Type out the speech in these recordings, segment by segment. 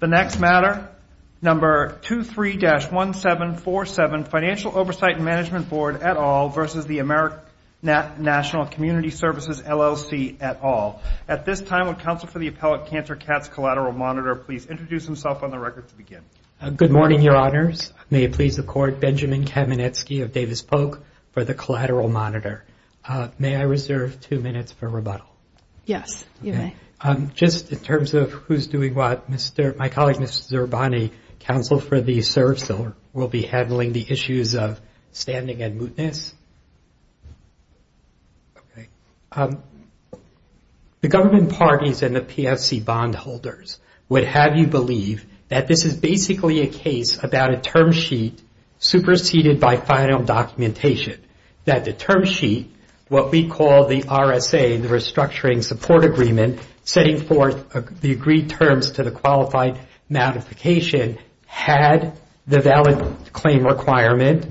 The next matter, number 23-1747, Financial Oversight and Management Board, et al. v. AmeriNational Community Services, LLC, et al. At this time, would Counsel for the Appellate Cancer Cats Collateral Monitor please introduce himself on the record to begin? Good morning, Your Honors. May it please the Court, Benjamin Kamenetsky of Davis Polk for the Collateral Monitor. May I reserve two minutes for rebuttal? Yes, you may. Just in terms of who's doing what, my colleague, Mr. Zerbani, Counsel for the Servicer, will be handling the issues of standing and mootness. The government parties and the PFC bondholders would have you believe that this is basically a case about a term sheet superseded by final documentation. That the term sheet, what we call the RSA, the Restructuring Support Agreement, setting forth the agreed terms to the qualified modification, had the valid claim requirement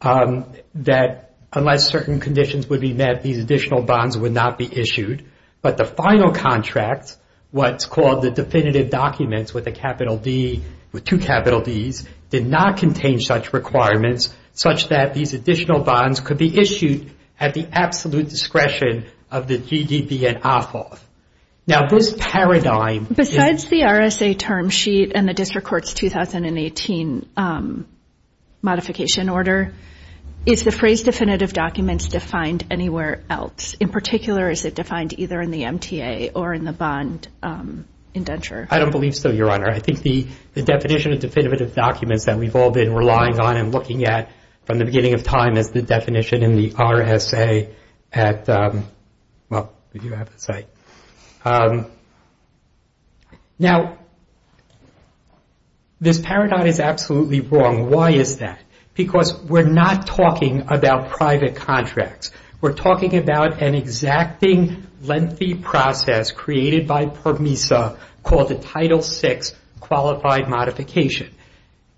that unless certain conditions would be met, these additional bonds would not be issued. But the final contract, what's called the definitive documents with a capital D, with two capital Ds, did not contain such requirements such that these additional bonds could be issued at the absolute discretion of the GDB and AFOF. Now this paradigm... Besides the RSA term sheet and the District Court's 2018 modification order, is the phrase definitive documents defined anywhere else? In particular, is it defined either in the MTA or in the bond indenture? I don't believe so, Your Honor. I think the definition of definitive documents that we've all been relying on and looking at from the beginning of time is the definition in the RSA at... Now, this paradigm is absolutely wrong. Why is that? Because we're not talking about private contracts. We're talking about an exacting lengthy process created by PERMISA called the Title VI Qualified Modification.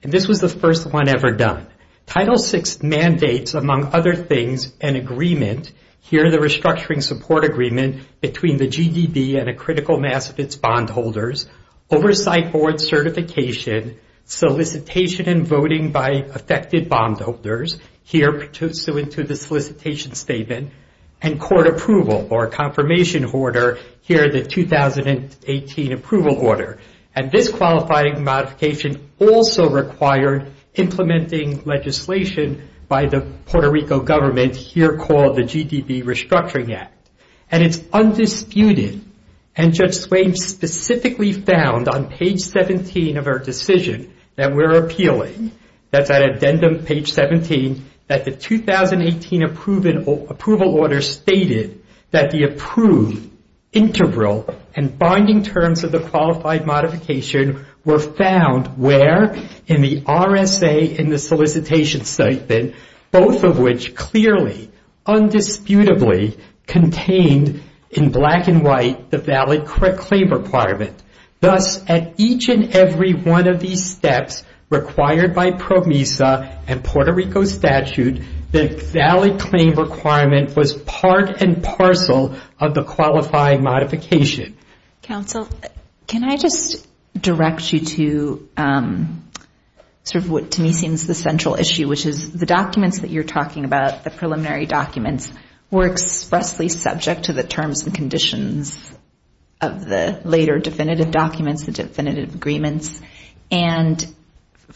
And this was the first one ever done. Title VI mandates, among other things, an agreement, here the Restructuring Support Agreement, between the GDB and a critical mass of its bondholders, oversight board certification, solicitation and voting by affected bondholders, here pursuant to the solicitation statement, and court approval or confirmation order, here the 2018 approval order. And this qualifying modification also required implementing legislation by the Puerto Rico government, here called the GDB Restructuring Act. And it's undisputed. And Judge Swabe specifically found on page 17 of her decision that we're appealing, that's at addendum page 17, that the 2018 approval order stated that the approved, integral and binding terms of the qualified modification were found where? In the RSA and the solicitation statement, both of which clearly, undisputably contained in black and white the valid claim requirement. Thus, at each and every one of these steps required by PERMISA and Puerto Rico statute, the valid claim requirement was part and parcel of the qualifying modification. Counsel, can I just direct you to sort of what to me seems the central issue, which is the documents that you're talking about, the preliminary documents, were expressly subject to the terms and conditions of the later definitive documents, the definitive agreements. And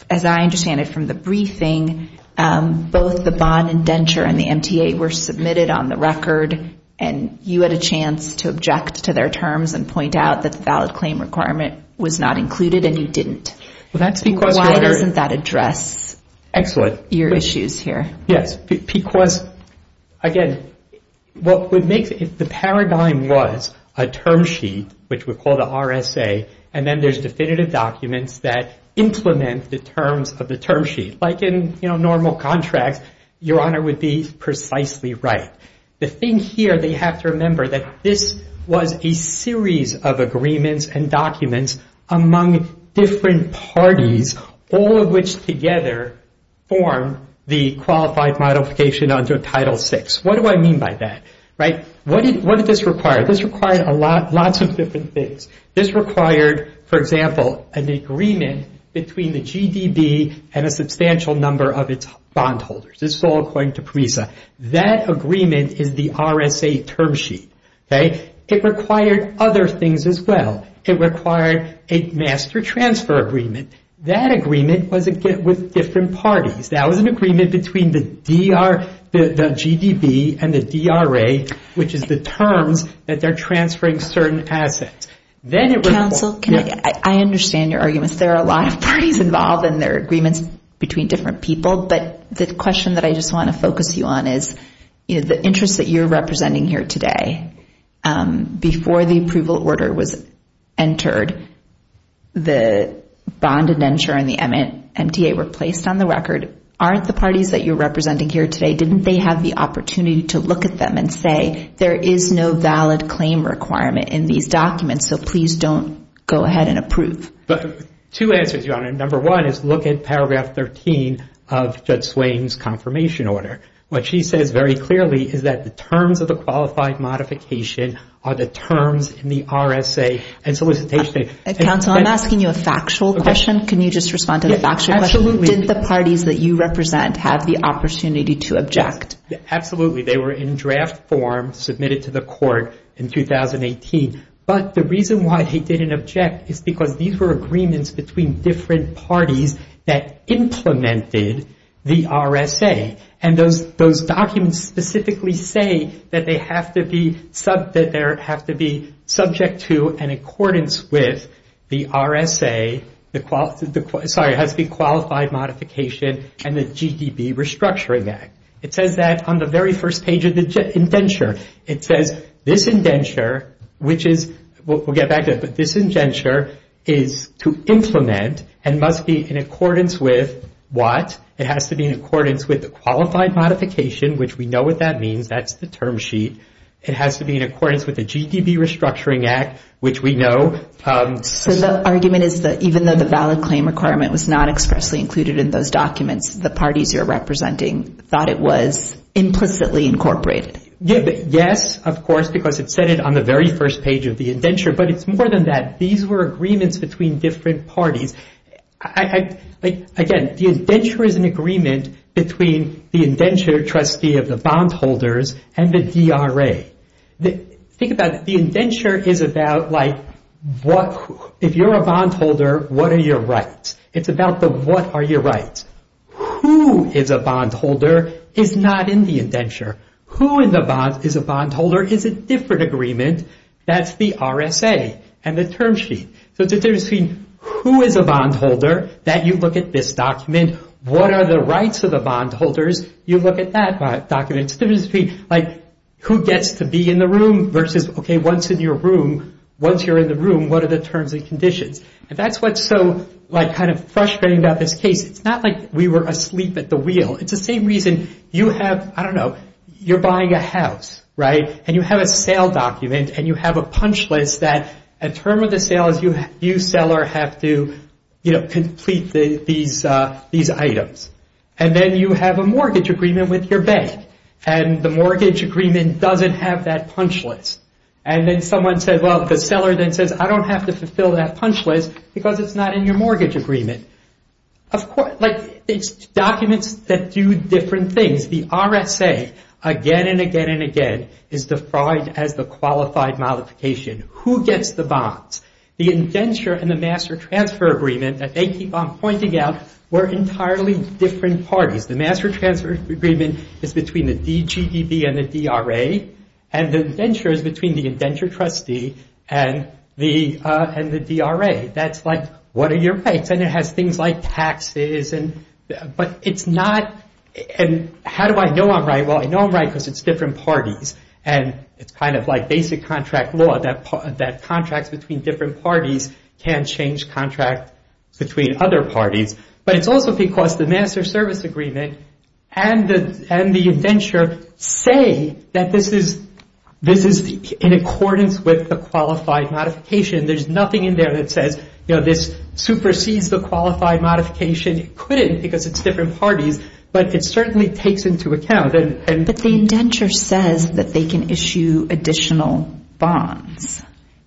as I understand it from the briefing, both the bond indenture and the MTA were submitted on the record, and you had a chance to object to their terms and point out that the valid claim requirement was not included and you didn't. Why doesn't that address your issues here? Yes, because, again, what would make the paradigm was a term sheet, which we call the RSA, and then there's definitive documents that implement the terms of the term sheet. Like in normal contracts, Your Honor would be precisely right. The thing here that you have to remember that this was a series of agreements and documents among different parties, all of which together form the qualified modification under Title VI. What do I mean by that? What did this require? This required lots of different things. This required, for example, an agreement between the GDB and a substantial number of its bondholders. This is all according to PERMISA. That agreement is the RSA term sheet. It required other things as well. It required a master transfer agreement. That agreement was with different parties. That was an agreement between the GDB and the DRA, which is the terms that they're transferring certain assets. Counsel, I understand your arguments. There are a lot of parties involved and there are agreements between different people, but the question that I just want to focus you on is the interests that you're representing here today. Before the approval order was entered, the bond indenture and the MTA were placed on the record. Aren't the parties that you're representing here today, didn't they have the opportunity to look at them and say, there is no valid claim requirement in these documents, so please don't go ahead and approve? Two answers, Your Honor. Number one is look at paragraph 13 of Judge Swain's confirmation order. What she says very clearly is that the terms of the qualified modification are the terms in the RSA and solicitation. Counsel, I'm asking you a factual question. Can you just respond to the factual question? Absolutely. Didn't the parties that you represent have the opportunity to object? Absolutely. They were in draft form submitted to the court in 2018. But the reason why he didn't object is because these were agreements between different parties that implemented the RSA. And those documents specifically say that they have to be subject to and in accordance with the RSA, sorry, it has to be qualified modification and the GDP Restructuring Act. It says that on the very first page of the indenture. It says this indenture, which is, we'll get back to it, but this indenture is to implement and must be in accordance with what? It has to be in accordance with the qualified modification, which we know what that means. That's the term sheet. It has to be in accordance with the GDP Restructuring Act, which we know. So the argument is that even though the valid claim requirement was not expressly included in those documents, the parties you're representing thought it was implicitly incorporated? Yes, of course, because it said it on the very first page of the indenture. But it's more than that. These were agreements between different parties. Again, the indenture is an agreement between the indenture trustee of the bondholders and the DRA. Think about the indenture is about like what? If you're a bondholder, what are your rights? It's about the what are your rights? Who is a bondholder is not in the indenture. Who is a bondholder is a different agreement. That's the RSA and the term sheet. So it's a difference between who is a bondholder that you look at this document. What are the rights of the bondholders? You look at that document. It's a difference between who gets to be in the room versus, OK, once in your room, once you're in the room, what are the terms and conditions? And that's what's so kind of frustrating about this case. It's not like we were asleep at the wheel. It's the same reason you have. I don't know. You're buying a house. Right. And you have a sale document and you have a punch list that a term of the sale is you. You sell or have to complete these these items. And then you have a mortgage agreement with your bank. And the mortgage agreement doesn't have that punch list. And then someone said, well, the seller then says, I don't have to fulfill that punch list because it's not in your mortgage agreement. It's documents that do different things. The RSA, again and again and again, is defined as the qualified modification. Who gets the bonds? The indenture and the master transfer agreement that they keep on pointing out were entirely different parties. The master transfer agreement is between the DGDB and the DRA. And the indenture is between the indenture trustee and the DRA. That's like, what are your rights? And it has things like taxes. And but it's not. And how do I know I'm right? Well, I know I'm right because it's different parties. And it's kind of like basic contract law that that contracts between different parties can change contract between other parties. But it's also because the master service agreement and the and the indenture say that this is this is in accordance with the qualified modification. There's nothing in there that says this supersedes the qualified modification. It couldn't because it's different parties. But it certainly takes into account. But the indenture says that they can issue additional bonds.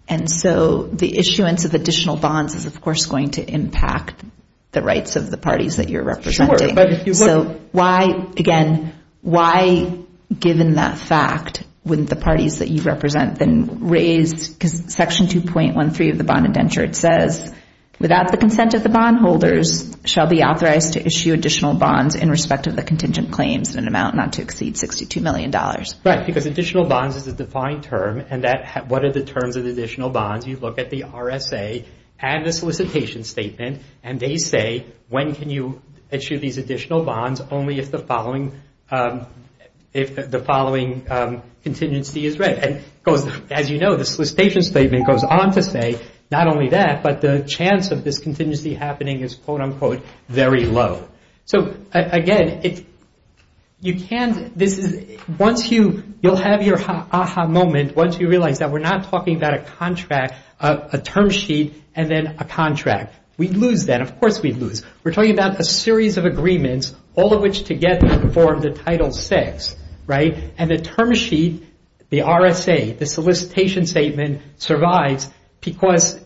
And so the issuance of additional bonds is, of course, going to impact the rights of the parties that you're representing. So why, again, why, given that fact, wouldn't the parties that you represent then raise Section 2.13 of the bond indenture? It says without the consent of the bondholders shall be authorized to issue additional bonds in respect of the contingent claims in an amount not to exceed $62 million. Right, because additional bonds is a defined term. And that what are the terms of additional bonds? You look at the RSA and the solicitation statement and they say, when can you issue these additional bonds? Only if the following if the following contingency is right. And because, as you know, the solicitation statement goes on to say not only that, but the chance of this contingency happening is, quote, unquote, very low. So, again, you'll have your aha moment once you realize that we're not talking about a contract, a term sheet, and then a contract. We'd lose that. Of course, we'd lose. We're talking about a series of agreements, all of which together form the Title VI, right? And the term sheet, the RSA, the solicitation statement, survives because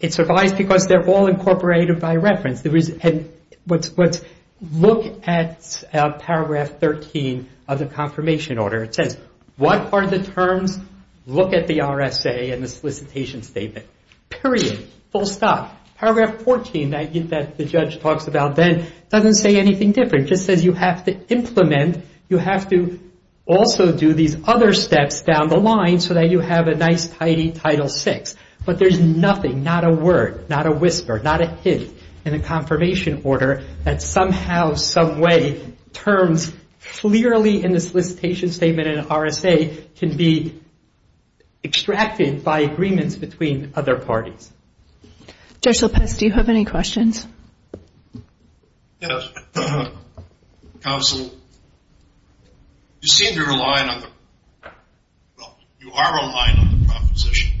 they're all incorporated by reference. Look at Paragraph 13 of the confirmation order. It says, what are the terms? Look at the RSA and the solicitation statement. Period. Full stop. Paragraph 14 that the judge talks about then doesn't say anything different. It just says you have to implement, you have to also do these other steps down the line so that you have a nice, tidy Title VI. But there's nothing, not a word, not a whisper, not a hint in the confirmation order that somehow, some way, terms clearly in the solicitation statement and RSA can be extracted by agreements between other parties. Judge Lopez, do you have any questions? Yes. Counsel, you seem to rely on the, well, you are relying on the proposition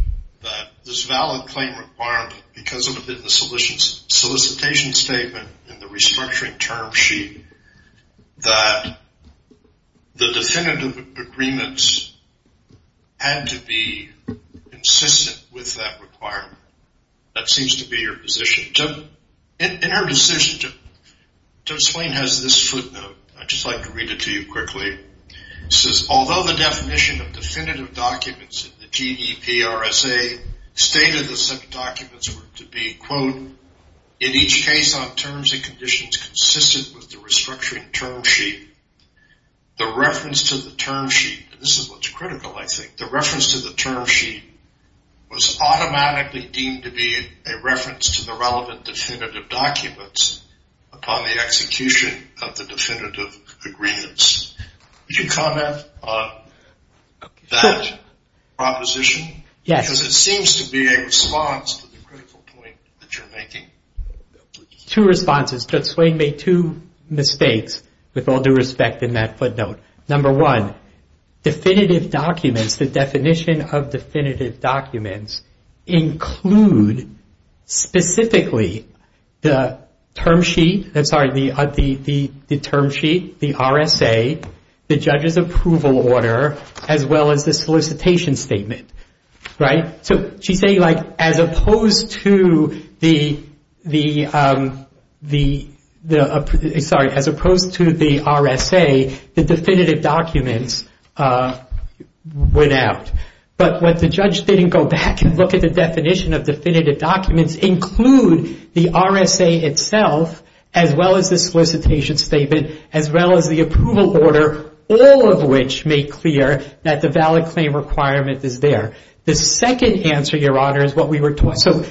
that this valid claim requirement because of the solicitation statement and the restructuring term sheet, that the definitive agreements had to be consistent with that requirement. That seems to be your position. In her decision, Judge Swain has this footnote. I'd just like to read it to you quickly. It says, although the definition of definitive documents in the GEP RSA stated that some documents were to be, quote, in each case on terms and conditions consistent with the restructuring term sheet, the reference to the term sheet, and this is what's critical, I think, the reference to the term sheet was automatically deemed to be a reference to the relevant definitive documents upon the execution of the definitive agreements. Would you comment on that proposition? Yes. Because it seems to be a response to the critical point that you're making. Two responses. Judge Swain made two mistakes with all due respect in that footnote. Number one, definitive documents, the definition of definitive documents include specifically the term sheet, the RSA, the judge's approval order, as well as the solicitation statement. She's saying as opposed to the RSA, the definitive documents went out. But what the judge didn't go back and look at the definition of definitive documents include the RSA itself, as well as the solicitation statement, as well as the approval order, all of which make clear that the valid claim requirement is there. The second answer, Your Honor, is what we were taught. So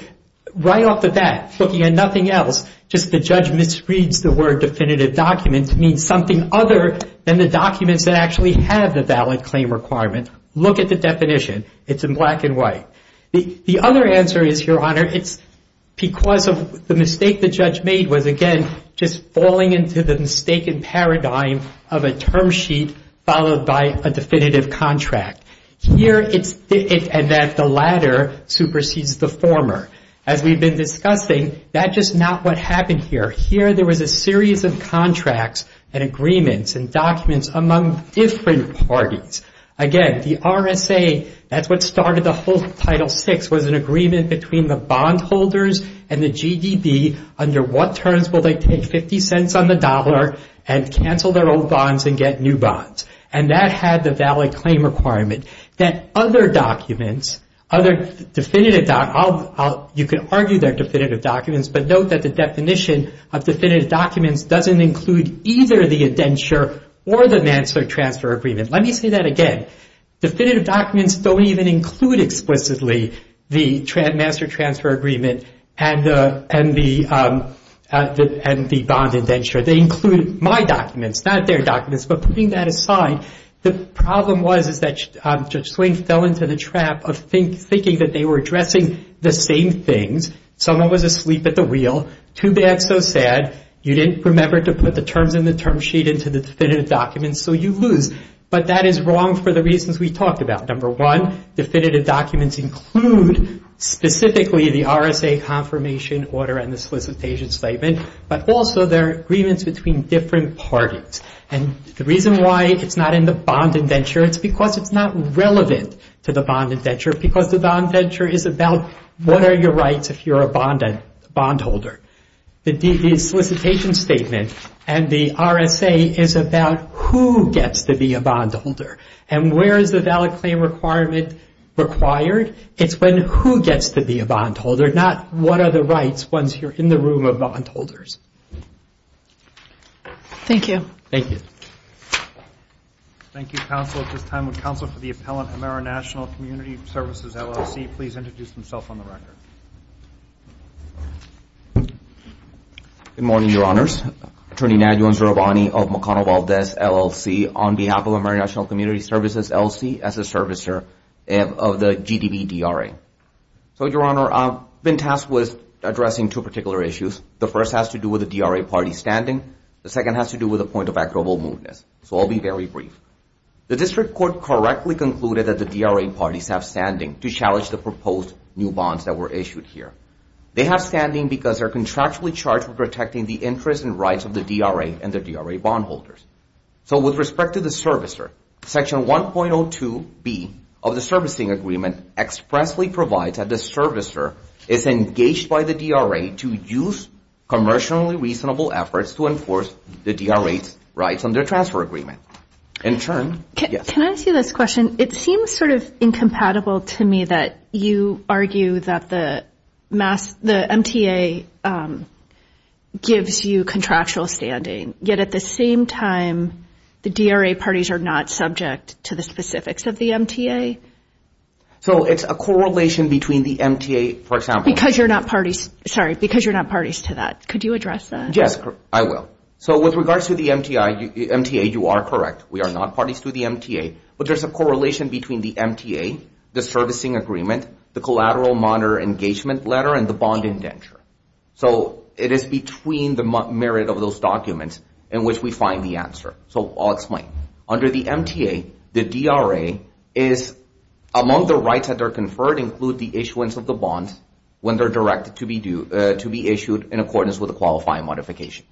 right off the bat, looking at nothing else, just the judge misreads the word definitive documents, means something other than the documents that actually have the valid claim requirement. Look at the definition. It's in black and white. The other answer is, Your Honor, it's because of the mistake the judge made was, again, just falling into the mistaken paradigm of a term sheet followed by a definitive contract. Here it's that the latter supersedes the former. As we've been discussing, that's just not what happened here. Here there was a series of contracts and agreements and documents among different parties. Again, the RSA, that's what started the whole Title VI, was an agreement between the bondholders and the GDB under what terms will they take 50 cents on the dollar and cancel their old bonds and get new bonds. And that had the valid claim requirement. You can argue they're definitive documents, but note that the definition of definitive documents doesn't include either the indenture or the manslaughter transfer agreement. Let me say that again. Definitive documents don't even include explicitly the manslaughter transfer agreement and the bond indenture. They include my documents, not their documents. But putting that aside, the problem was is that Judge Swain fell into the trap of thinking that they were addressing the same things. Someone was asleep at the wheel. Too bad, so sad. You didn't remember to put the terms in the term sheet into the definitive documents, so you lose. But that is wrong for the reasons we talked about. Number one, definitive documents include specifically the RSA confirmation order and the solicitation statement, but also there are agreements between different parties. And the reason why it's not in the bond indenture, it's because it's not relevant to the bond indenture because the bond indenture is about what are your rights if you're a bondholder. The solicitation statement and the RSA is about who gets to be a bondholder and where is the valid claim requirement required. It's when who gets to be a bondholder, not what are the rights once you're in the room of bondholders. Thank you. Thank you. Thank you, counsel. At this time, would counsel for the appellant, Ameri-National Community Services, LLC, please introduce himself on the record. Good morning, Your Honors. Attorney Nigel Zurabani of McConnell-Valdez, LLC, on behalf of Ameri-National Community Services, LLC, as a servicer of the GDBDRA. So, Your Honor, I've been tasked with addressing two particular issues. The first has to do with the DRA party standing. The second has to do with a point of equitable movement, so I'll be very brief. The district court correctly concluded that the DRA parties have standing to challenge the proposed new bonds that were issued here. They have standing because they're contractually charged with protecting the interests and rights of the DRA and their DRA bondholders. So, with respect to the servicer, Section 1.02B of the servicing agreement expressly provides that the servicer is engaged by the DRA to use commercially reasonable efforts to enforce the DRA's rights under transfer agreement. In turn, yes? Can I ask you this question? It seems sort of incompatible to me that you argue that the MTA gives you contractual standing, yet at the same time, the DRA parties are not subject to the specifics of the MTA? So, it's a correlation between the MTA, for example. Because you're not parties to that. Could you address that? Yes, I will. So, with regards to the MTA, you are correct. We are not parties to the MTA, but there's a correlation between the MTA, the servicing agreement, the collateral monitor engagement letter, and the bond indenture. So, it is between the merit of those documents in which we find the answer. So, I'll explain. Under the MTA, the DRA is, among the rights that are conferred include the issuance of the bonds when they're directed to be issued in accordance with the qualifying modification.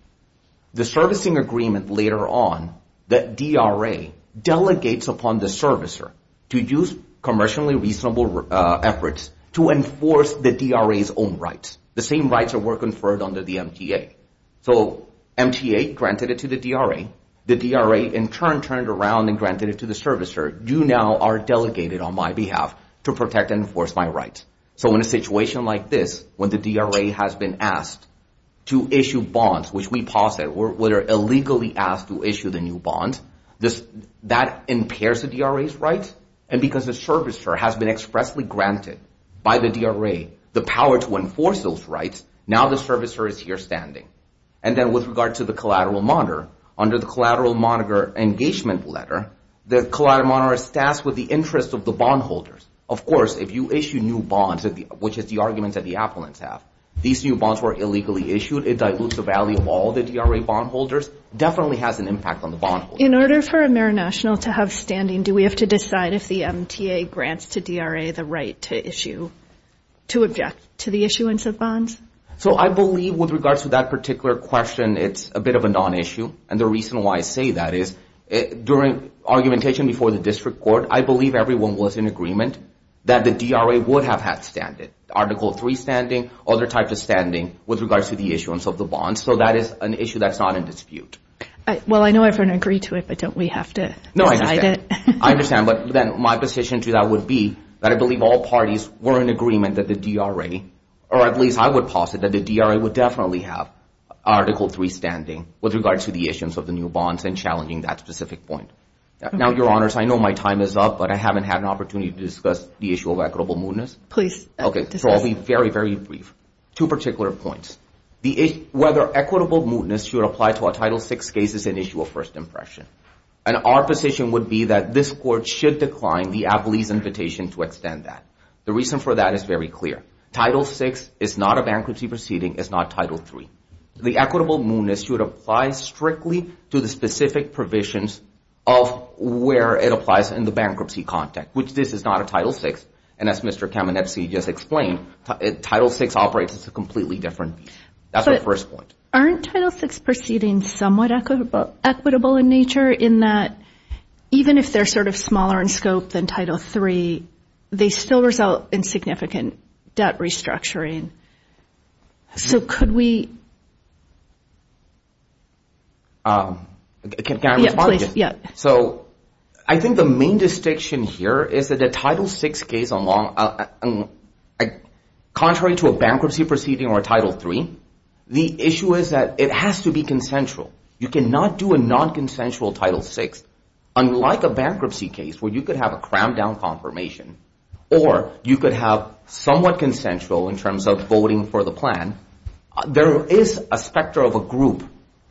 The servicing agreement later on, the DRA delegates upon the servicer to use commercially reasonable efforts to enforce the DRA's own rights. The same rights that were conferred under the MTA. So, MTA granted it to the DRA. The DRA, in turn, turned around and granted it to the servicer. You now are delegated on my behalf to protect and enforce my rights. So, in a situation like this, when the DRA has been asked to issue bonds, which we posit were illegally asked to issue the new bond, that impairs the DRA's rights. And because the servicer has been expressly granted by the DRA the power to enforce those rights, now the servicer is here standing. And then with regard to the collateral monitor, under the collateral monitor engagement letter, the collateral monitor is tasked with the interest of the bondholders. Of course, if you issue new bonds, which is the argument that the appellants have, these new bonds were illegally issued. It dilutes the value of all the DRA bondholders, definitely has an impact on the bondholders. In order for Ameri-National to have standing, do we have to decide if the MTA grants to DRA the right to issue, to object to the issuance of bonds? So, I believe with regards to that particular question, it's a bit of a non-issue. And the reason why I say that is during argumentation before the district court, I believe everyone was in agreement that the DRA would have had standing. Article III standing, other types of standing with regards to the issuance of the bonds. So, that is an issue that's not in dispute. Well, I know everyone agreed to it, but don't we have to decide it? No, I understand. I understand, but then my position to that would be that I believe all parties were in agreement that the DRA, or at least I would posit that the DRA would definitely have Article III standing with regards to the issuance of the new bonds and challenging that specific point. Now, Your Honors, I know my time is up, but I haven't had an opportunity to discuss the issue of equitable mootness. Please discuss. Okay, so I'll be very, very brief. Two particular points. Whether equitable mootness should apply to a Title VI case is an issue of first impression. And our position would be that this court should decline the Apley's invitation to extend that. The reason for that is very clear. Title VI is not a bankruptcy proceeding. It's not Title III. The equitable mootness should apply strictly to the specific provisions of where it applies in the bankruptcy context, which this is not a Title VI. And as Mr. Kamenetzky just explained, Title VI operates as a completely different beast. That's my first point. Aren't Title VI proceedings somewhat equitable in nature in that even if they're sort of smaller in scope than Title III, they still result in significant debt restructuring? So could we? Can I respond to this? Yeah, please. So I think the main distinction here is that a Title VI case, contrary to a bankruptcy proceeding or a Title III, the issue is that it has to be consensual. You cannot do a nonconsensual Title VI. Unlike a bankruptcy case where you could have a crammed-down confirmation or you could have somewhat consensual in terms of voting for the plan, there is a specter of a group,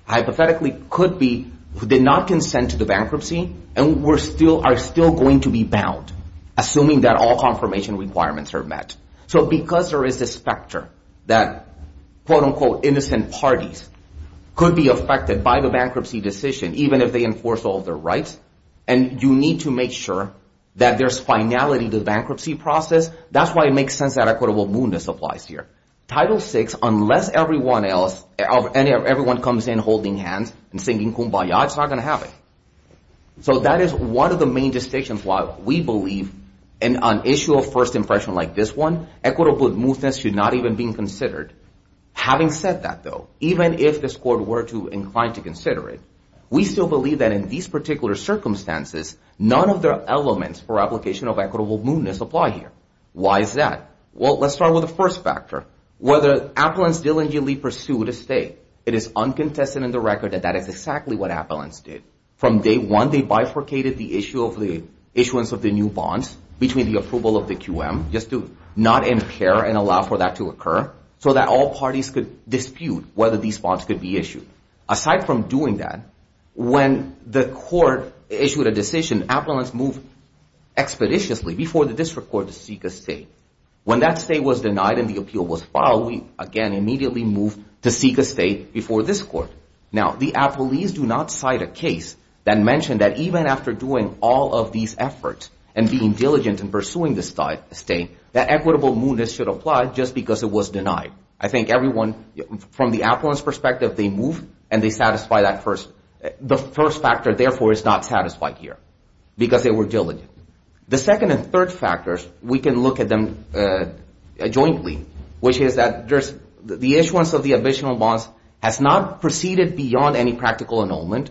hypothetically, could be who did not consent to the bankruptcy and are still going to be bound, assuming that all confirmation requirements are met. So because there is this specter that, quote-unquote, innocent parties could be affected by the bankruptcy decision, even if they enforce all of their rights, and you need to make sure that there's finality to the bankruptcy process, that's why it makes sense that equitable moodness applies here. Title VI, unless everyone comes in holding hands and singing kumbaya, it's not going to happen. So that is one of the main distinctions why we believe, on an issue of first impression like this one, equitable moodness should not even be considered. Having said that, though, even if this Court were inclined to consider it, we still believe that in these particular circumstances, none of the elements for application of equitable moodness apply here. Why is that? Well, let's start with the first factor. Whether appellants diligently pursued a stay, it is uncontested in the record that that is exactly what appellants did. From day one, they bifurcated the issuance of the new bonds between the approval of the QM, just to not impair and allow for that to occur, so that all parties could dispute whether these bonds could be issued. Aside from doing that, when the Court issued a decision, appellants moved expeditiously before the district court to seek a stay. When that stay was denied and the appeal was filed, we, again, immediately moved to seek a stay before this Court. Now, the appellees do not cite a case that mentioned that even after doing all of these efforts and being diligent in pursuing the stay, that equitable moodness should apply just because it was denied. I think everyone, from the appellant's perspective, they move and they satisfy that first. The first factor, therefore, is not satisfied here because they were diligent. The second and third factors, we can look at them jointly, which is that the issuance of the additional bonds has not proceeded beyond any practical annulment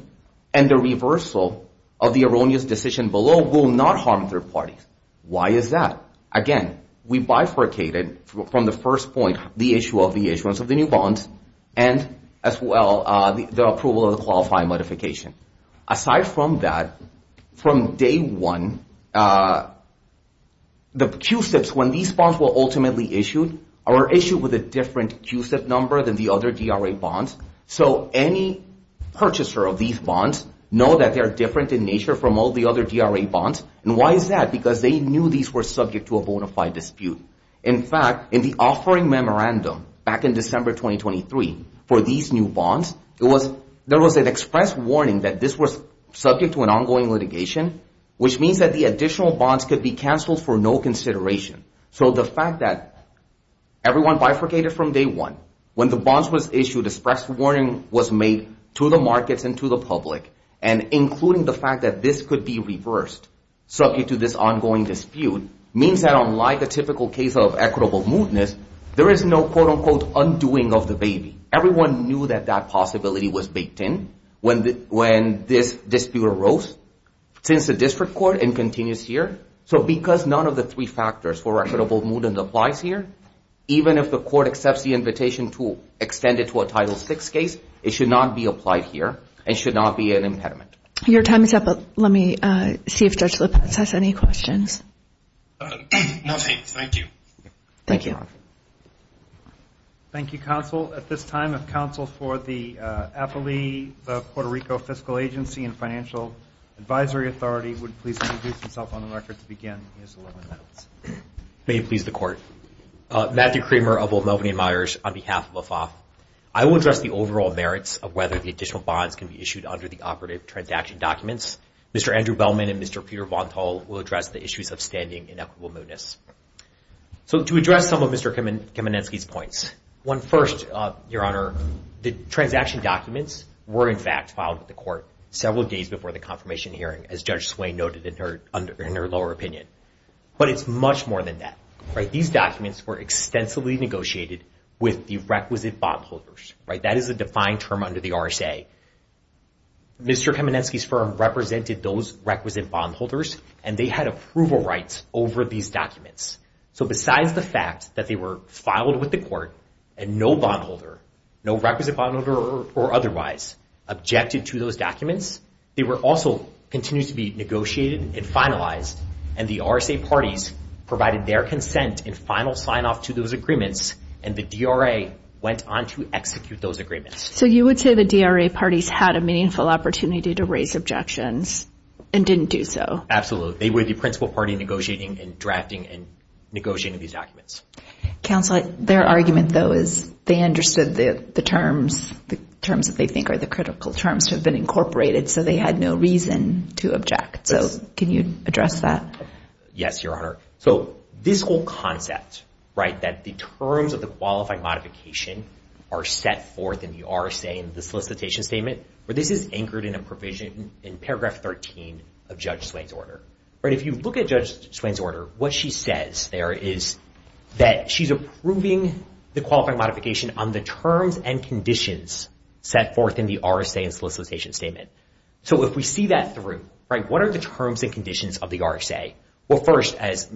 and the reversal of the erroneous decision below will not harm third parties. Why is that? Again, we bifurcated from the first point the issue of the issuance of the new bonds and, as well, the approval of the qualifying modification. Aside from that, from day one, the QSIPs, when these bonds were ultimately issued, are issued with a different QSIP number than the other DRA bonds, so any purchaser of these bonds know that they are different in nature from all the other DRA bonds. And why is that? Because they knew these were subject to a bona fide dispute. In fact, in the offering memorandum back in December 2023 for these new bonds, there was an express warning that this was subject to an ongoing litigation, which means that the additional bonds could be canceled for no consideration. So the fact that everyone bifurcated from day one, when the bonds were issued, an express warning was made to the markets and to the public, and including the fact that this could be reversed subject to this ongoing dispute, means that, unlike a typical case of equitable mootness, there is no quote-unquote undoing of the baby. Everyone knew that that possibility was baked in when this dispute arose, since the district court and continues here. So because none of the three factors for equitable mootness applies here, even if the court accepts the invitation to extend it to a Title VI case, it should not be applied here and should not be an impediment. Your time is up. Let me see if Judge Lopez has any questions. No, thanks. Thank you. Thank you. Thank you, Counsel. At this time, if Counsel for the APALE, the Puerto Rico Fiscal Agency and Financial Advisory Authority, would please introduce himself on the record to begin. May it please the Court. Matthew Kramer of Old Melbourne and Myers on behalf of AFAWF. I will address the overall merits of whether the additional bonds can be issued under the operative transaction documents. Mr. Andrew Bellman and Mr. Peter Vontal will address the issues of standing in equitable mootness. So to address some of Mr. Kamenetsky's points. First, Your Honor, the transaction documents were in fact filed with the court several days before the confirmation hearing, as Judge Swain noted in her lower opinion. But it's much more than that. These documents were extensively negotiated with the requisite bondholders. That is a defined term under the RSA. Mr. Kamenetsky's firm represented those requisite bondholders, and they had approval rights over these documents. So besides the fact that they were filed with the court and no bondholder, no requisite bondholder or otherwise, objected to those documents, they were also continued to be negotiated and finalized, and the RSA parties provided their consent in final sign-off to those agreements, and the DRA went on to execute those agreements. So you would say the DRA parties had a meaningful opportunity to raise objections and didn't do so. Absolutely. They were the principal party negotiating and drafting and negotiating these documents. Counsel, their argument, though, is they understood the terms that they think are the critical terms have been incorporated, so they had no reason to object. So can you address that? Yes, Your Honor. So this whole concept, right, that the terms of the qualified modification are set forth in the RSA in the solicitation statement, this is anchored in a provision in paragraph 13 of Judge Swain's order. If you look at Judge Swain's order, what she says there is that she's approving the qualified modification on the terms and conditions set forth in the RSA in the solicitation statement. So if we see that through, what are the terms and conditions of the RSA? Well, first, as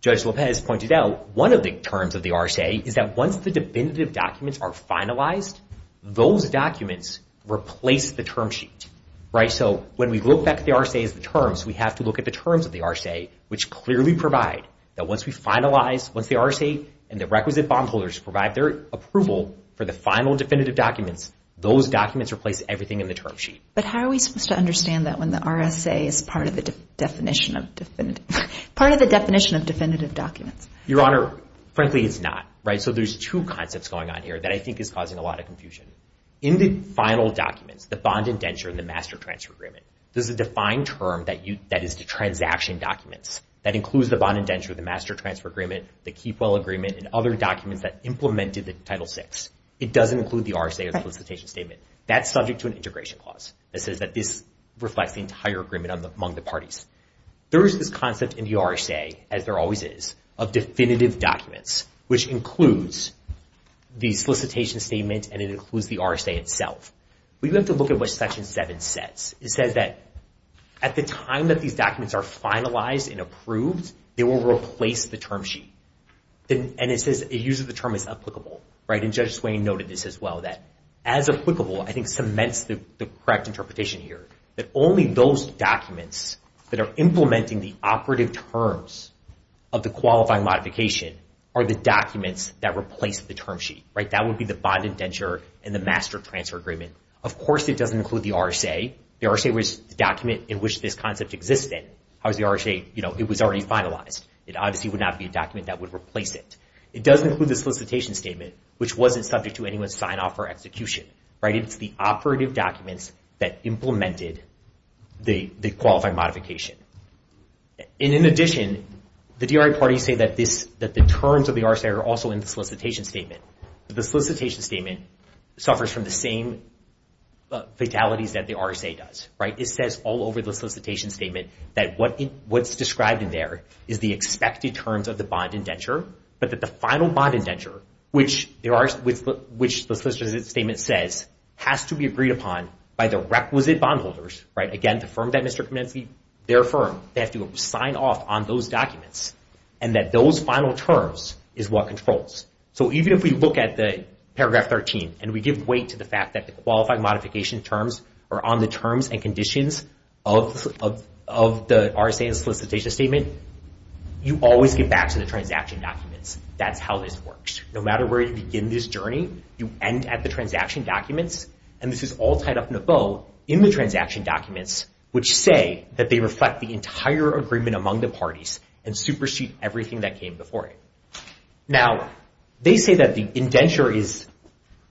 Judge Lopez pointed out, one of the terms of the RSA is that once the definitive documents are finalized, those documents replace the term sheet. So when we look back at the RSA as the terms, we have to look at the terms of the RSA, which clearly provide that once we finalize, once the RSA and the requisite bondholders provide their approval for the final definitive documents, those documents replace everything in the term sheet. But how are we supposed to understand that when the RSA is part of the definition of definitive documents? Your Honor, frankly, it's not. So there's two concepts going on here that I think is causing a lot of confusion. In the final documents, the bond indenture and the master transfer agreement, there's a defined term that is the transaction documents that includes the bond indenture, the master transfer agreement, the keepwell agreement, and other documents that implemented the Title VI. It doesn't include the RSA or the solicitation statement. That's subject to an integration clause that says that this reflects the entire agreement among the parties. There is this concept in the RSA, as there always is, of definitive documents, which includes the solicitation statement and it includes the RSA itself. We have to look at what Section 7 says. It says that at the time that these documents are finalized and approved, they will replace the term sheet. And it uses the term as applicable. And Judge Swain noted this as well, that as applicable, I think cements the correct interpretation here, that only those documents that are implementing the operative terms of the qualifying modification are the documents that replace the term sheet. That would be the bond indenture and the master transfer agreement. Of course, it doesn't include the RSA. The RSA was the document in which this concept existed. How is the RSA? It was already finalized. It obviously would not be a document that would replace it. It does include the solicitation statement, which wasn't subject to anyone's sign-off or execution. It's the operative documents that implemented the qualifying modification. In addition, the DRA parties say that the terms of the RSA are also in the solicitation statement. The solicitation statement suffers from the same fatalities that the RSA does. It says all over the solicitation statement that what's described in there is the expected terms of the bond indenture, but that the final bond indenture, which the solicitation statement says, has to be agreed upon by the requisite bondholders. Again, the firm that Mr. Kamensky, their firm, they have to sign off on those documents and that those final terms is what controls. So even if we look at the paragraph 13 and we give weight to the fact that the qualifying modification terms are on the terms and conditions of the RSA and solicitation statement, you always get back to the transaction documents. That's how this works. No matter where you begin this journey, you end at the transaction documents, and this is all tied up in a bow in the transaction documents, which say that they reflect the entire agreement among the parties and supersede everything that came before it. Now, they say that the indenture is,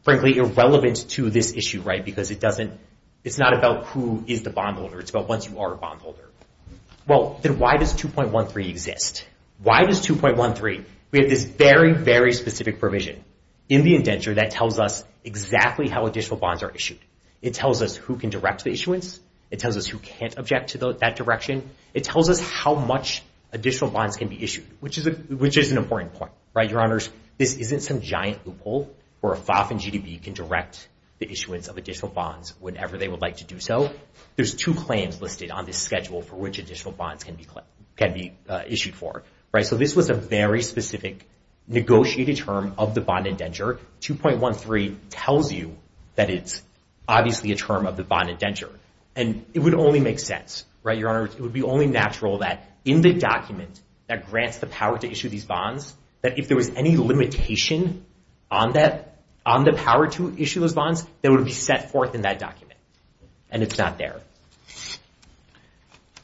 frankly, irrelevant to this issue because it's not about who is the bondholder. It's about once you are a bondholder. Well, then why does 2.13 exist? Why does 2.13? We have this very, very specific provision in the indenture that tells us exactly how additional bonds are issued. It tells us who can direct the issuance. It tells us who can't object to that direction. It tells us how much additional bonds can be issued, which is an important point, right? Your Honors, this isn't some giant loophole where a FOF and GDB can direct the issuance of additional bonds whenever they would like to do so. There's two claims listed on this schedule for which additional bonds can be issued for. So this was a very specific negotiated term of the bond indenture, 2.13 tells you that it's obviously a term of the bond indenture. And it would only make sense, right? Your Honors, it would be only natural that in the document that grants the power to issue these bonds, that if there was any limitation on the power to issue those bonds, they would be set forth in that document, and it's not there.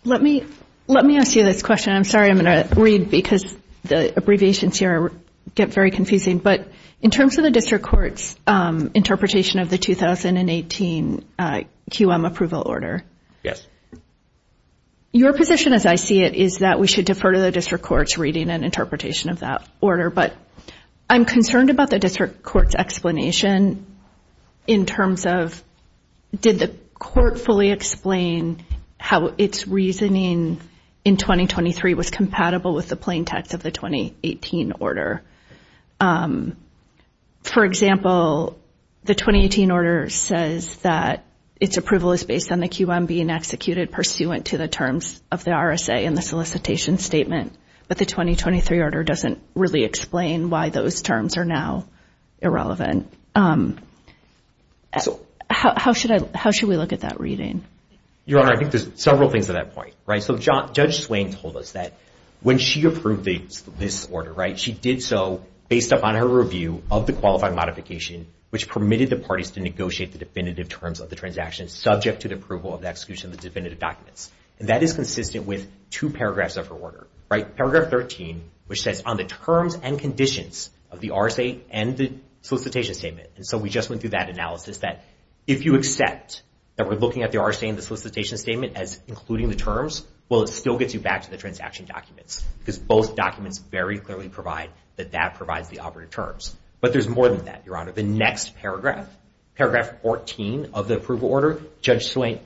Let me ask you this question. I'm sorry I'm going to read because the abbreviations here get very confusing. But in terms of the district court's interpretation of the 2018 QM approval order, your position as I see it is that we should defer to the district court's reading and interpretation of that order. But I'm concerned about the district court's explanation in terms of did the court fully explain how its reasoning in 2023 was compatible with the plain text of the 2018 order? For example, the 2018 order says that its approval is based on the QM being executed pursuant to the terms of the RSA in the solicitation statement. But the 2023 order doesn't really explain why those terms are now irrelevant. How should we look at that reading? Your Honor, I think there's several things to that point. Judge Swain told us that when she approved this order, she did so based upon her review of the qualifying modification, which permitted the parties to negotiate the definitive terms of the transaction subject to the approval of the execution of the definitive documents. That is consistent with two paragraphs of her order. Paragraph 13, which says on the terms and conditions of the RSA and the solicitation statement. We just went through that analysis that if you accept that we're looking at the RSA and the solicitation statement as including the terms, well it still gets you back to the transaction documents because both documents very clearly provide that that provides the operative terms. But there's more than that, Your Honor. The next paragraph, paragraph 14 of the approval order, Judge Swain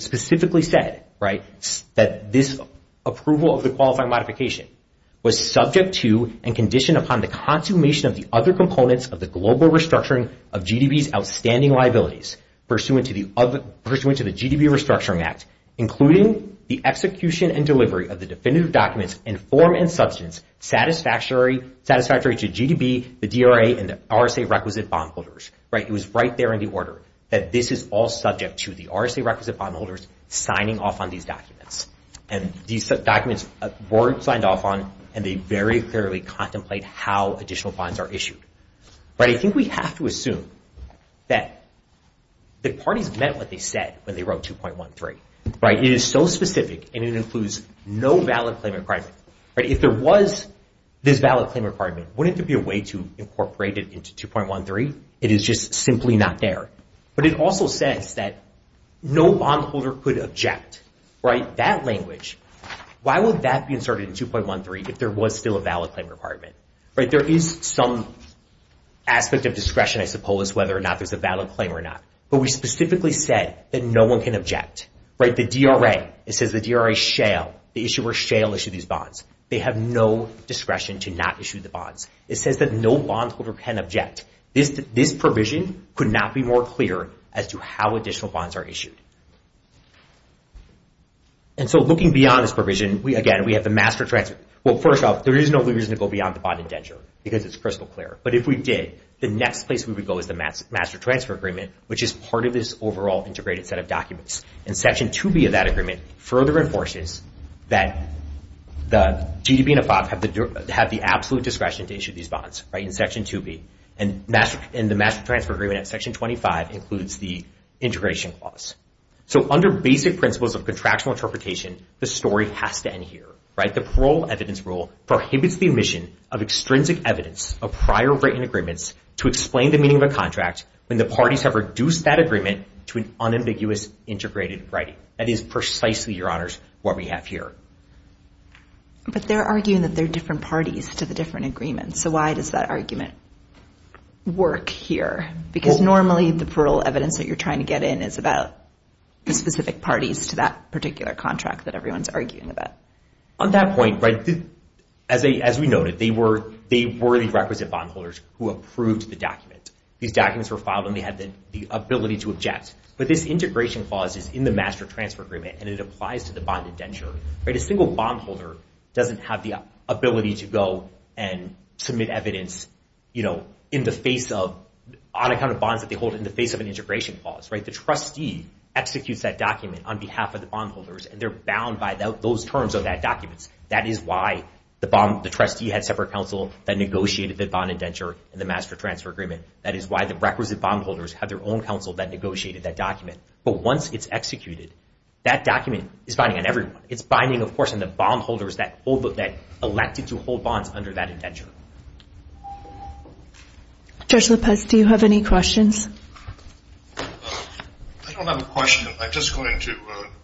specifically said that this approval of the qualifying modification was subject to and conditioned upon the consummation of the other components of the global restructuring of GDP's outstanding liabilities pursuant to the GDP Restructuring Act, including the execution and delivery of the definitive documents in form and substance satisfactory to GDP, the DRA, and the RSA requisite bondholders. It was right there in the order that this is all subject to the RSA requisite bondholders signing off on these documents. And these documents weren't signed off on, and they very clearly contemplate how additional bonds are issued. But I think we have to assume that the parties meant what they said when they wrote 2.13. It is so specific, and it includes no valid claim requirement. If there was this valid claim requirement, wouldn't there be a way to incorporate it into 2.13? It is just simply not there. But it also says that no bondholder could object. That language, why would that be inserted in 2.13 if there was still a valid claim requirement? There is some aspect of discretion, I suppose, whether or not there's a valid claim or not. But we specifically said that no one can object. The DRA, it says the DRA shall, the issuer shall issue these bonds. They have no discretion to not issue the bonds. It says that no bondholder can object. This provision could not be more clear as to how additional bonds are issued. And so looking beyond this provision, again, we have the master transfer. Well, first off, there is no reason to go beyond the bond indenture because it's crystal clear. But if we did, the next place we would go is the master transfer agreement, which is part of this overall integrated set of documents. And Section 2B of that agreement further enforces that the GDB and AFOB have the absolute discretion to issue these bonds in Section 2B. And the master transfer agreement in Section 25 includes the integration clause. So under basic principles of contractual interpretation, the story has to end here. The parole evidence rule prohibits the admission of extrinsic evidence of prior written agreements to explain the meaning of a contract when the parties have reduced that agreement to an unambiguous integrated writing. That is precisely, Your Honors, what we have here. But they're arguing that they're different parties to the different agreements. So why does that argument work here? Because normally the parole evidence that you're trying to get in is about the specific parties to that particular contract that everyone's arguing about. On that point, as we noted, they were the requisite bondholders who approved the document. These documents were filed, and they had the ability to object. But this integration clause is in the master transfer agreement, and it applies to the bond indenture. A single bondholder doesn't have the ability to go and submit evidence on account of bonds that they hold in the face of an integration clause. The trustee executes that document on behalf of the bondholders, and they're bound by those terms of that document. That is why the trustee had separate counsel that negotiated the bond indenture in the master transfer agreement. That is why the requisite bondholders had their own counsel that negotiated that document. But once it's executed, that document is binding on everyone. It's binding, of course, on the bondholders that elected to hold bonds under that indenture. Judge Lopez, do you have any questions? I don't have a question. I'm just going to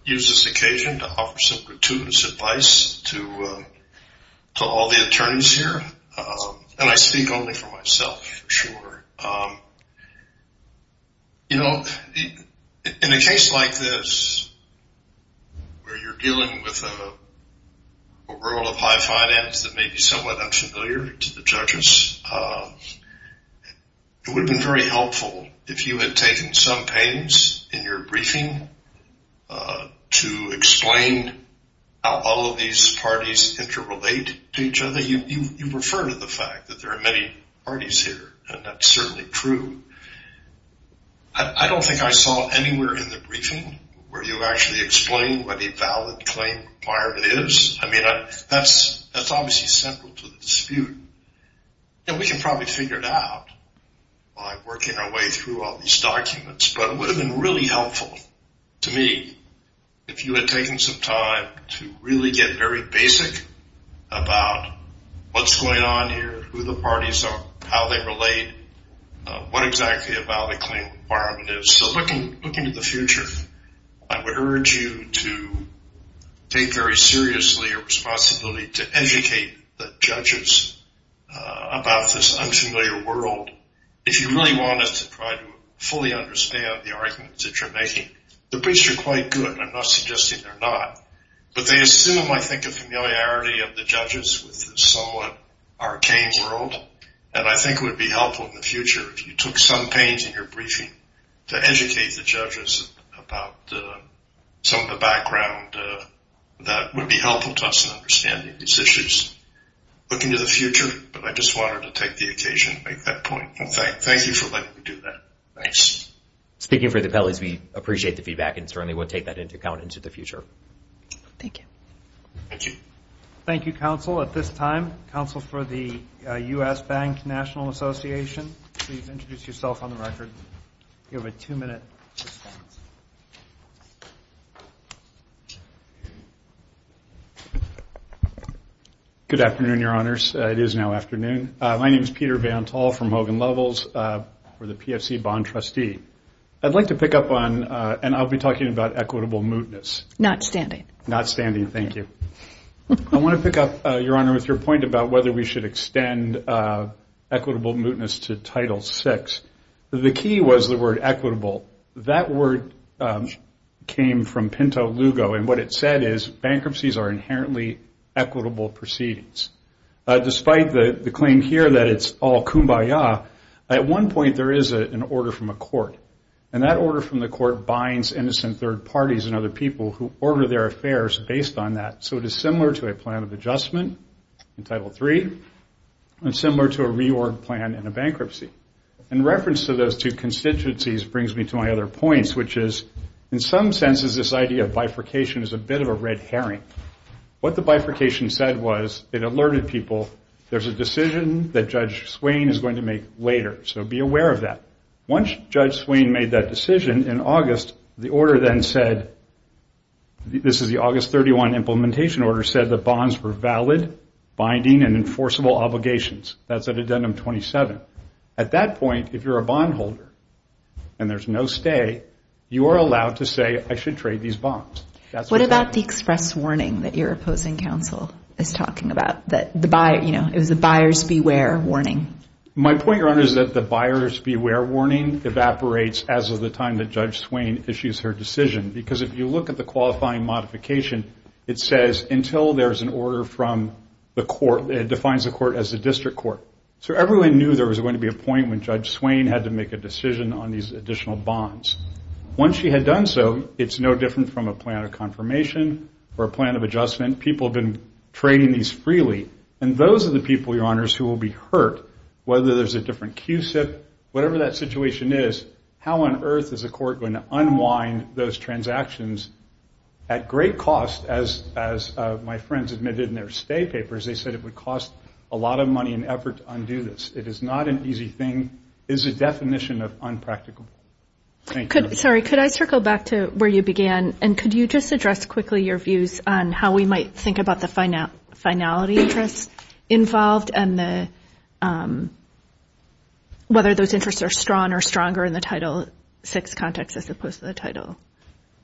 use this occasion to offer some gratuitous advice to all the attorneys here. And I speak only for myself, for sure. You know, in a case like this where you're dealing with a role of high finance that may be somewhat unfamiliar to the judges, it would have been very helpful if you had taken some pains in your briefing to explain how all of these parties interrelate to each other. You refer to the fact that there are many parties here, and that's certainly true. I don't think I saw anywhere in the briefing where you actually explained what a valid claim requirement is. I mean, that's obviously central to the dispute. And we can probably figure it out by working our way through all these documents. But it would have been really helpful to me if you had taken some time to really get very basic about what's going on here, who the parties are, how they relate, what exactly a valid claim requirement is. So looking to the future, I would urge you to take very seriously your responsibility to educate the judges about this unfamiliar world. If you really want us to try to fully understand the arguments that you're making, the briefs are quite good, and I'm not suggesting they're not. But they assume, I think, a familiarity of the judges with this somewhat arcane world, and I think it would be helpful in the future if you took some pains in your briefing to educate the judges about some of the background that would be helpful to us in understanding these issues. Looking to the future, but I just wanted to take the occasion to make that point. Thank you for letting me do that. Thanks. Speaking for the appellees, we appreciate the feedback, and certainly we'll take that into account into the future. Thank you. Thank you. Thank you, counsel. At this time, counsel for the U.S. Bank National Association, please introduce yourself on the record. You have a two-minute suspense. Good afternoon, Your Honors. It is now afternoon. My name is Peter Vantall from Hogan Levels. We're the PFC bond trustee. I'd like to pick up on, and I'll be talking about equitable mootness. Not standing. Not standing. Thank you. I want to pick up, Your Honor, with your point about whether we should extend equitable mootness to Title VI. The key was the word equitable. That word came from Pinto Lugo, and what it said is, bankruptcies are inherently equitable proceedings. Despite the claim here that it's all kumbaya, at one point there is an order from a court, and that order from the court binds innocent third parties and other people who order their affairs based on that. So it is similar to a plan of adjustment in Title III, and similar to a reorg plan in a bankruptcy. In reference to those two constituencies brings me to my other points, which is, in some senses, this idea of bifurcation is a bit of a red herring. What the bifurcation said was it alerted people, there's a decision that Judge Swain is going to make later, so be aware of that. Once Judge Swain made that decision in August, the order then said, this is the August 31 implementation order, said the bonds were valid, binding, and enforceable obligations. That's at Addendum 27. At that point, if you're a bondholder and there's no stay, you are allowed to say, I should trade these bonds. What about the express warning that your opposing counsel is talking about? It was a buyer's beware warning. My point, Your Honor, is that the buyer's beware warning evaporates as of the time that Judge Swain issues her decision, because if you look at the qualifying modification, it says until there's an order from the court, it defines the court as a district court. So everyone knew there was going to be a point when Judge Swain had to make a decision on these additional bonds. Once she had done so, it's no different from a plan of confirmation or a plan of adjustment. People have been trading these freely, and those are the people, Your Honors, who will be hurt, whether there's a different QCIP. Whatever that situation is, how on earth is a court going to unwind those transactions at great cost? As my friends admitted in their stay papers, they said it would cost a lot of money and effort to undo this. It is not an easy thing. It is a definition of unpractical. Thank you. Sorry, could I circle back to where you began, and could you just address quickly your views on how we might think about the finality interests involved and whether those interests are strong or stronger in the Title VI context as opposed to the Title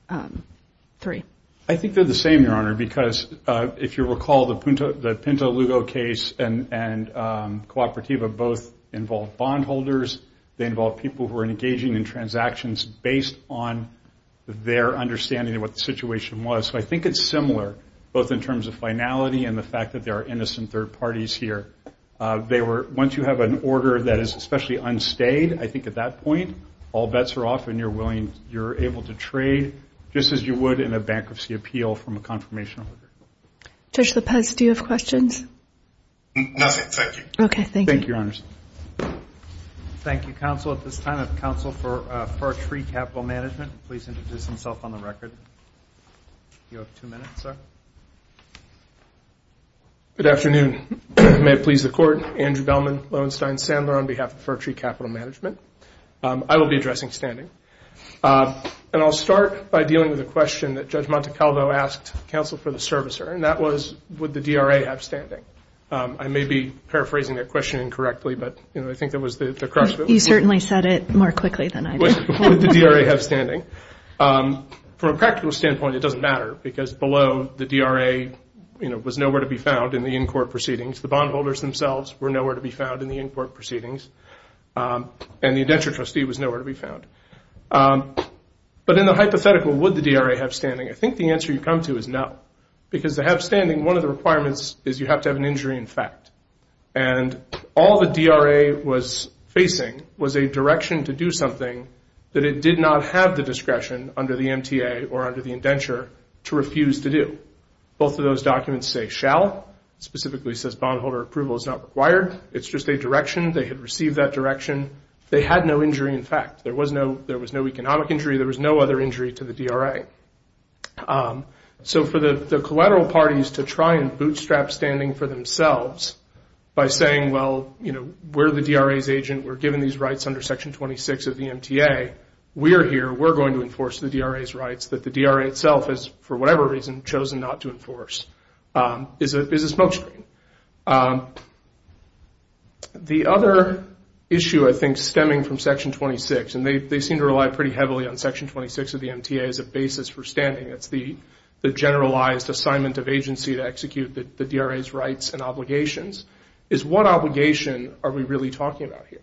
III? I think they're the same, Your Honor, because if you recall the Pinto Lugo case and Cooperativa, both involved bondholders. They involved people who were engaging in transactions based on their understanding of what the situation was. So I think it's similar, both in terms of finality and the fact that there are innocent third parties here. Once you have an order that is especially unstayed, I think at that point all bets are off and you're able to trade just as you would in a bankruptcy appeal from a confirmation order. Judge Lopez, do you have questions? Nothing, thank you. Okay, thank you. Thank you, Your Honor. Thank you, counsel. At this time, I have counsel for Far Tree Capital Management. Please introduce himself on the record. You have two minutes, sir. Good afternoon. May it please the Court. Andrew Bellman, Loewenstein, Sandler, on behalf of Far Tree Capital Management. I will be addressing standing. And I'll start by dealing with a question that Judge Montecalvo asked counsel for the servicer, and that was, would the DRA have standing? I may be paraphrasing that question incorrectly, but I think that was the crux of it. You certainly said it more quickly than I did. Would the DRA have standing? From a practical standpoint, it doesn't matter, because below the DRA was nowhere to be found in the in-court proceedings. The bondholders themselves were nowhere to be found in the in-court proceedings, and the indenture trustee was nowhere to be found. But in the hypothetical, would the DRA have standing? I think the answer you come to is no, because to have standing, one of the requirements is you have to have an injury in fact. And all the DRA was facing was a direction to do something that it did not have the discretion under the MTA or under the indenture to refuse to do. Both of those documents say shall. It specifically says bondholder approval is not required. It's just a direction. They had received that direction. They had no injury in fact. There was no economic injury. There was no other injury to the DRA. So for the collateral parties to try and bootstrap standing for themselves by saying, well, you know, we're the DRA's agent. We're given these rights under Section 26 of the MTA. We're here. We're going to enforce the DRA's rights that the DRA itself has, for whatever reason, chosen not to enforce, is a smokescreen. The other issue I think stemming from Section 26, and they seem to rely pretty heavily on Section 26 of the MTA as a basis for standing. It's the generalized assignment of agency to execute the DRA's rights and obligations, is what obligation are we really talking about here?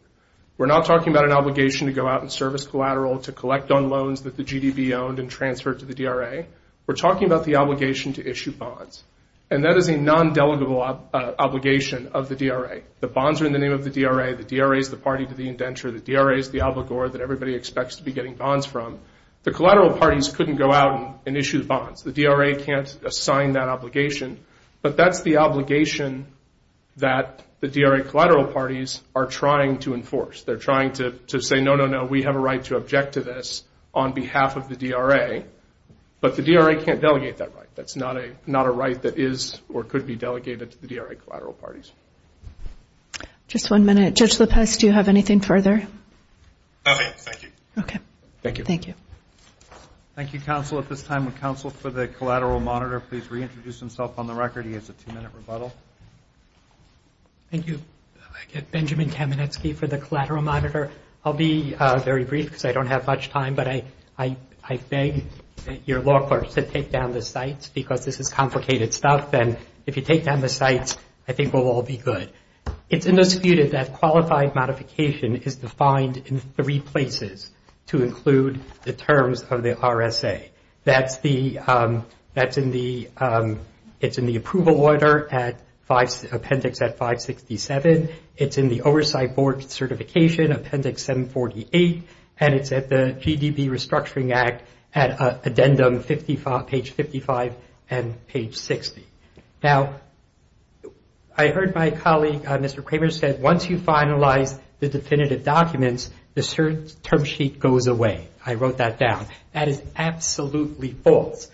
We're not talking about an obligation to go out and service collateral to collect on loans that the GDB owned and transferred to the DRA. We're talking about the obligation to issue bonds. And that is a non-delegable obligation of the DRA. The bonds are in the name of the DRA. The DRA is the party to the indenture. The DRA is the obligor that everybody expects to be getting bonds from. The collateral parties couldn't go out and issue the bonds. The DRA can't assign that obligation. But that's the obligation that the DRA collateral parties are trying to enforce. They're trying to say, no, no, no, we have a right to object to this on behalf of the DRA. But the DRA can't delegate that right. That's not a right that is or could be delegated to the DRA collateral parties. Just one minute. Judge Lopez, do you have anything further? Nothing. Okay. Thank you. Thank you. Thank you, counsel. At this time, would counsel for the collateral monitor please reintroduce himself on the record? He has a two-minute rebuttal. Thank you. I get Benjamin Kamenetsky for the collateral monitor. I'll be very brief because I don't have much time. But I beg your law clerks to take down the cites because this is complicated stuff. And if you take down the cites, I think we'll all be good. It's indisputed that qualified modification is defined in three places to include the terms of the RSA. That's in the approval order appendix at 567. It's in the oversight board certification appendix 748. And it's at the GDP Restructuring Act at addendum page 55 and page 60. Now, I heard my colleague, Mr. Kramer, said once you finalize the definitive documents, the term sheet goes away. I wrote that down. That is absolutely false.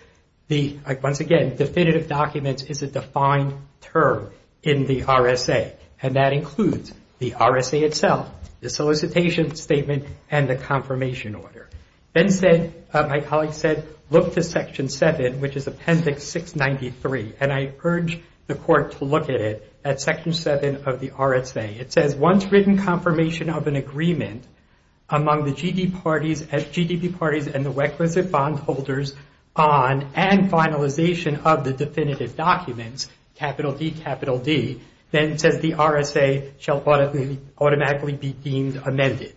Once again, definitive documents is a defined term in the RSA. And that includes the RSA itself, the solicitation statement, and the confirmation order. My colleague said look to section 7, which is appendix 693. And I urge the court to look at it at section 7 of the RSA. It says once written confirmation of an agreement among the GDP parties and the requisite bondholders on and finalization of the definitive documents, capital D, capital D, then says the RSA shall automatically be deemed amended.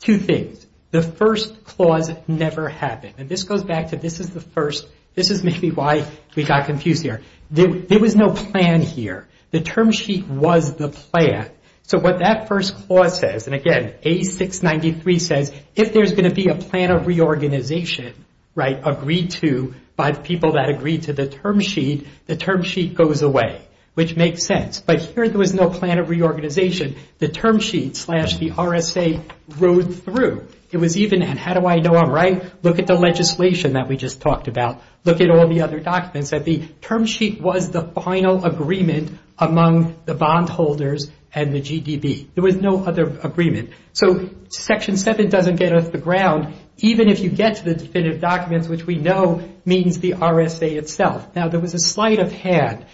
Two things. The first clause never happened. And this goes back to this is the first. This is maybe why we got confused here. There was no plan here. The term sheet was the plan. So what that first clause says, and again, 8693 says if there's going to be a plan of reorganization agreed to by the people that agreed to the term sheet, the term sheet goes away, which makes sense. But here there was no plan of reorganization. The term sheet slash the RSA rode through. It was even, and how do I know I'm right? Look at the legislation that we just talked about. Look at all the other documents. The term sheet was the final agreement among the bondholders and the GDP. There was no other agreement. So section 7 doesn't get us the ground, even if you get to the definitive documents, which we know means the RSA itself. Now there was a slight of had.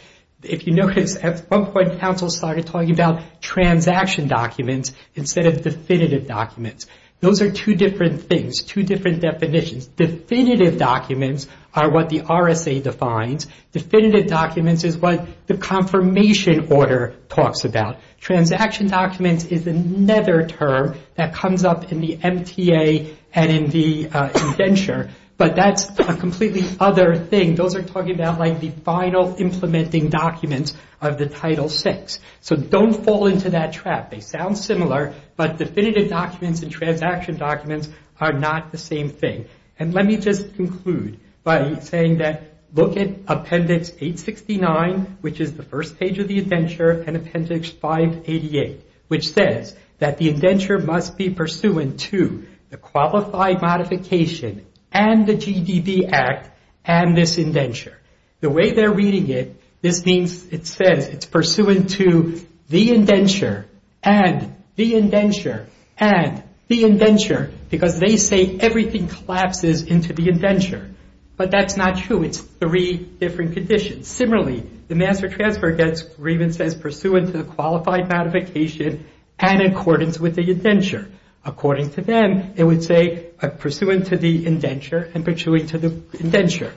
If you notice, at one point counsel started talking about transaction documents instead of definitive documents. Those are two different things, two different definitions. Definitive documents are what the RSA defines. Definitive documents is what the confirmation order talks about. Transaction documents is another term that comes up in the MTA and in the indenture. But that's a completely other thing. Those are talking about like the final implementing documents of the Title VI. So don't fall into that trap. They sound similar, but definitive documents and transaction documents are not the same thing. And let me just conclude by saying that look at Appendix 869, which is the first page of the indenture, and Appendix 588, which says that the indenture must be pursuant to the Qualified Modification and the GDP Act and this indenture. The way they're reading it, this means it says it's pursuant to the indenture and the indenture and the indenture, because they say everything collapses into the indenture. But that's not true. It's three different conditions. Similarly, the Master Transfer Agreement says pursuant to the Qualified Modification and in accordance with the indenture. According to them, it would say pursuant to the indenture and pursuant to the indenture.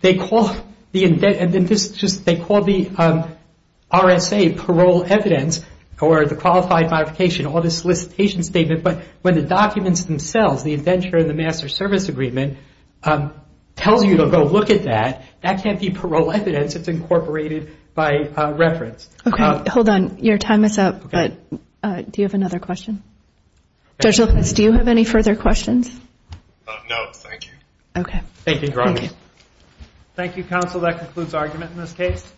They call the RSA parole evidence or the Qualified Modification or the solicitation statement, but when the documents themselves, the indenture and the Master Service Agreement, tells you to go look at that, that can't be parole evidence. It's incorporated by reference. Okay, hold on. Your time is up, but do you have another question? Judge Lopez, do you have any further questions? No, thank you. Okay. Thank you, Your Honor. Thank you. Thank you, counsel. That concludes argument in this case.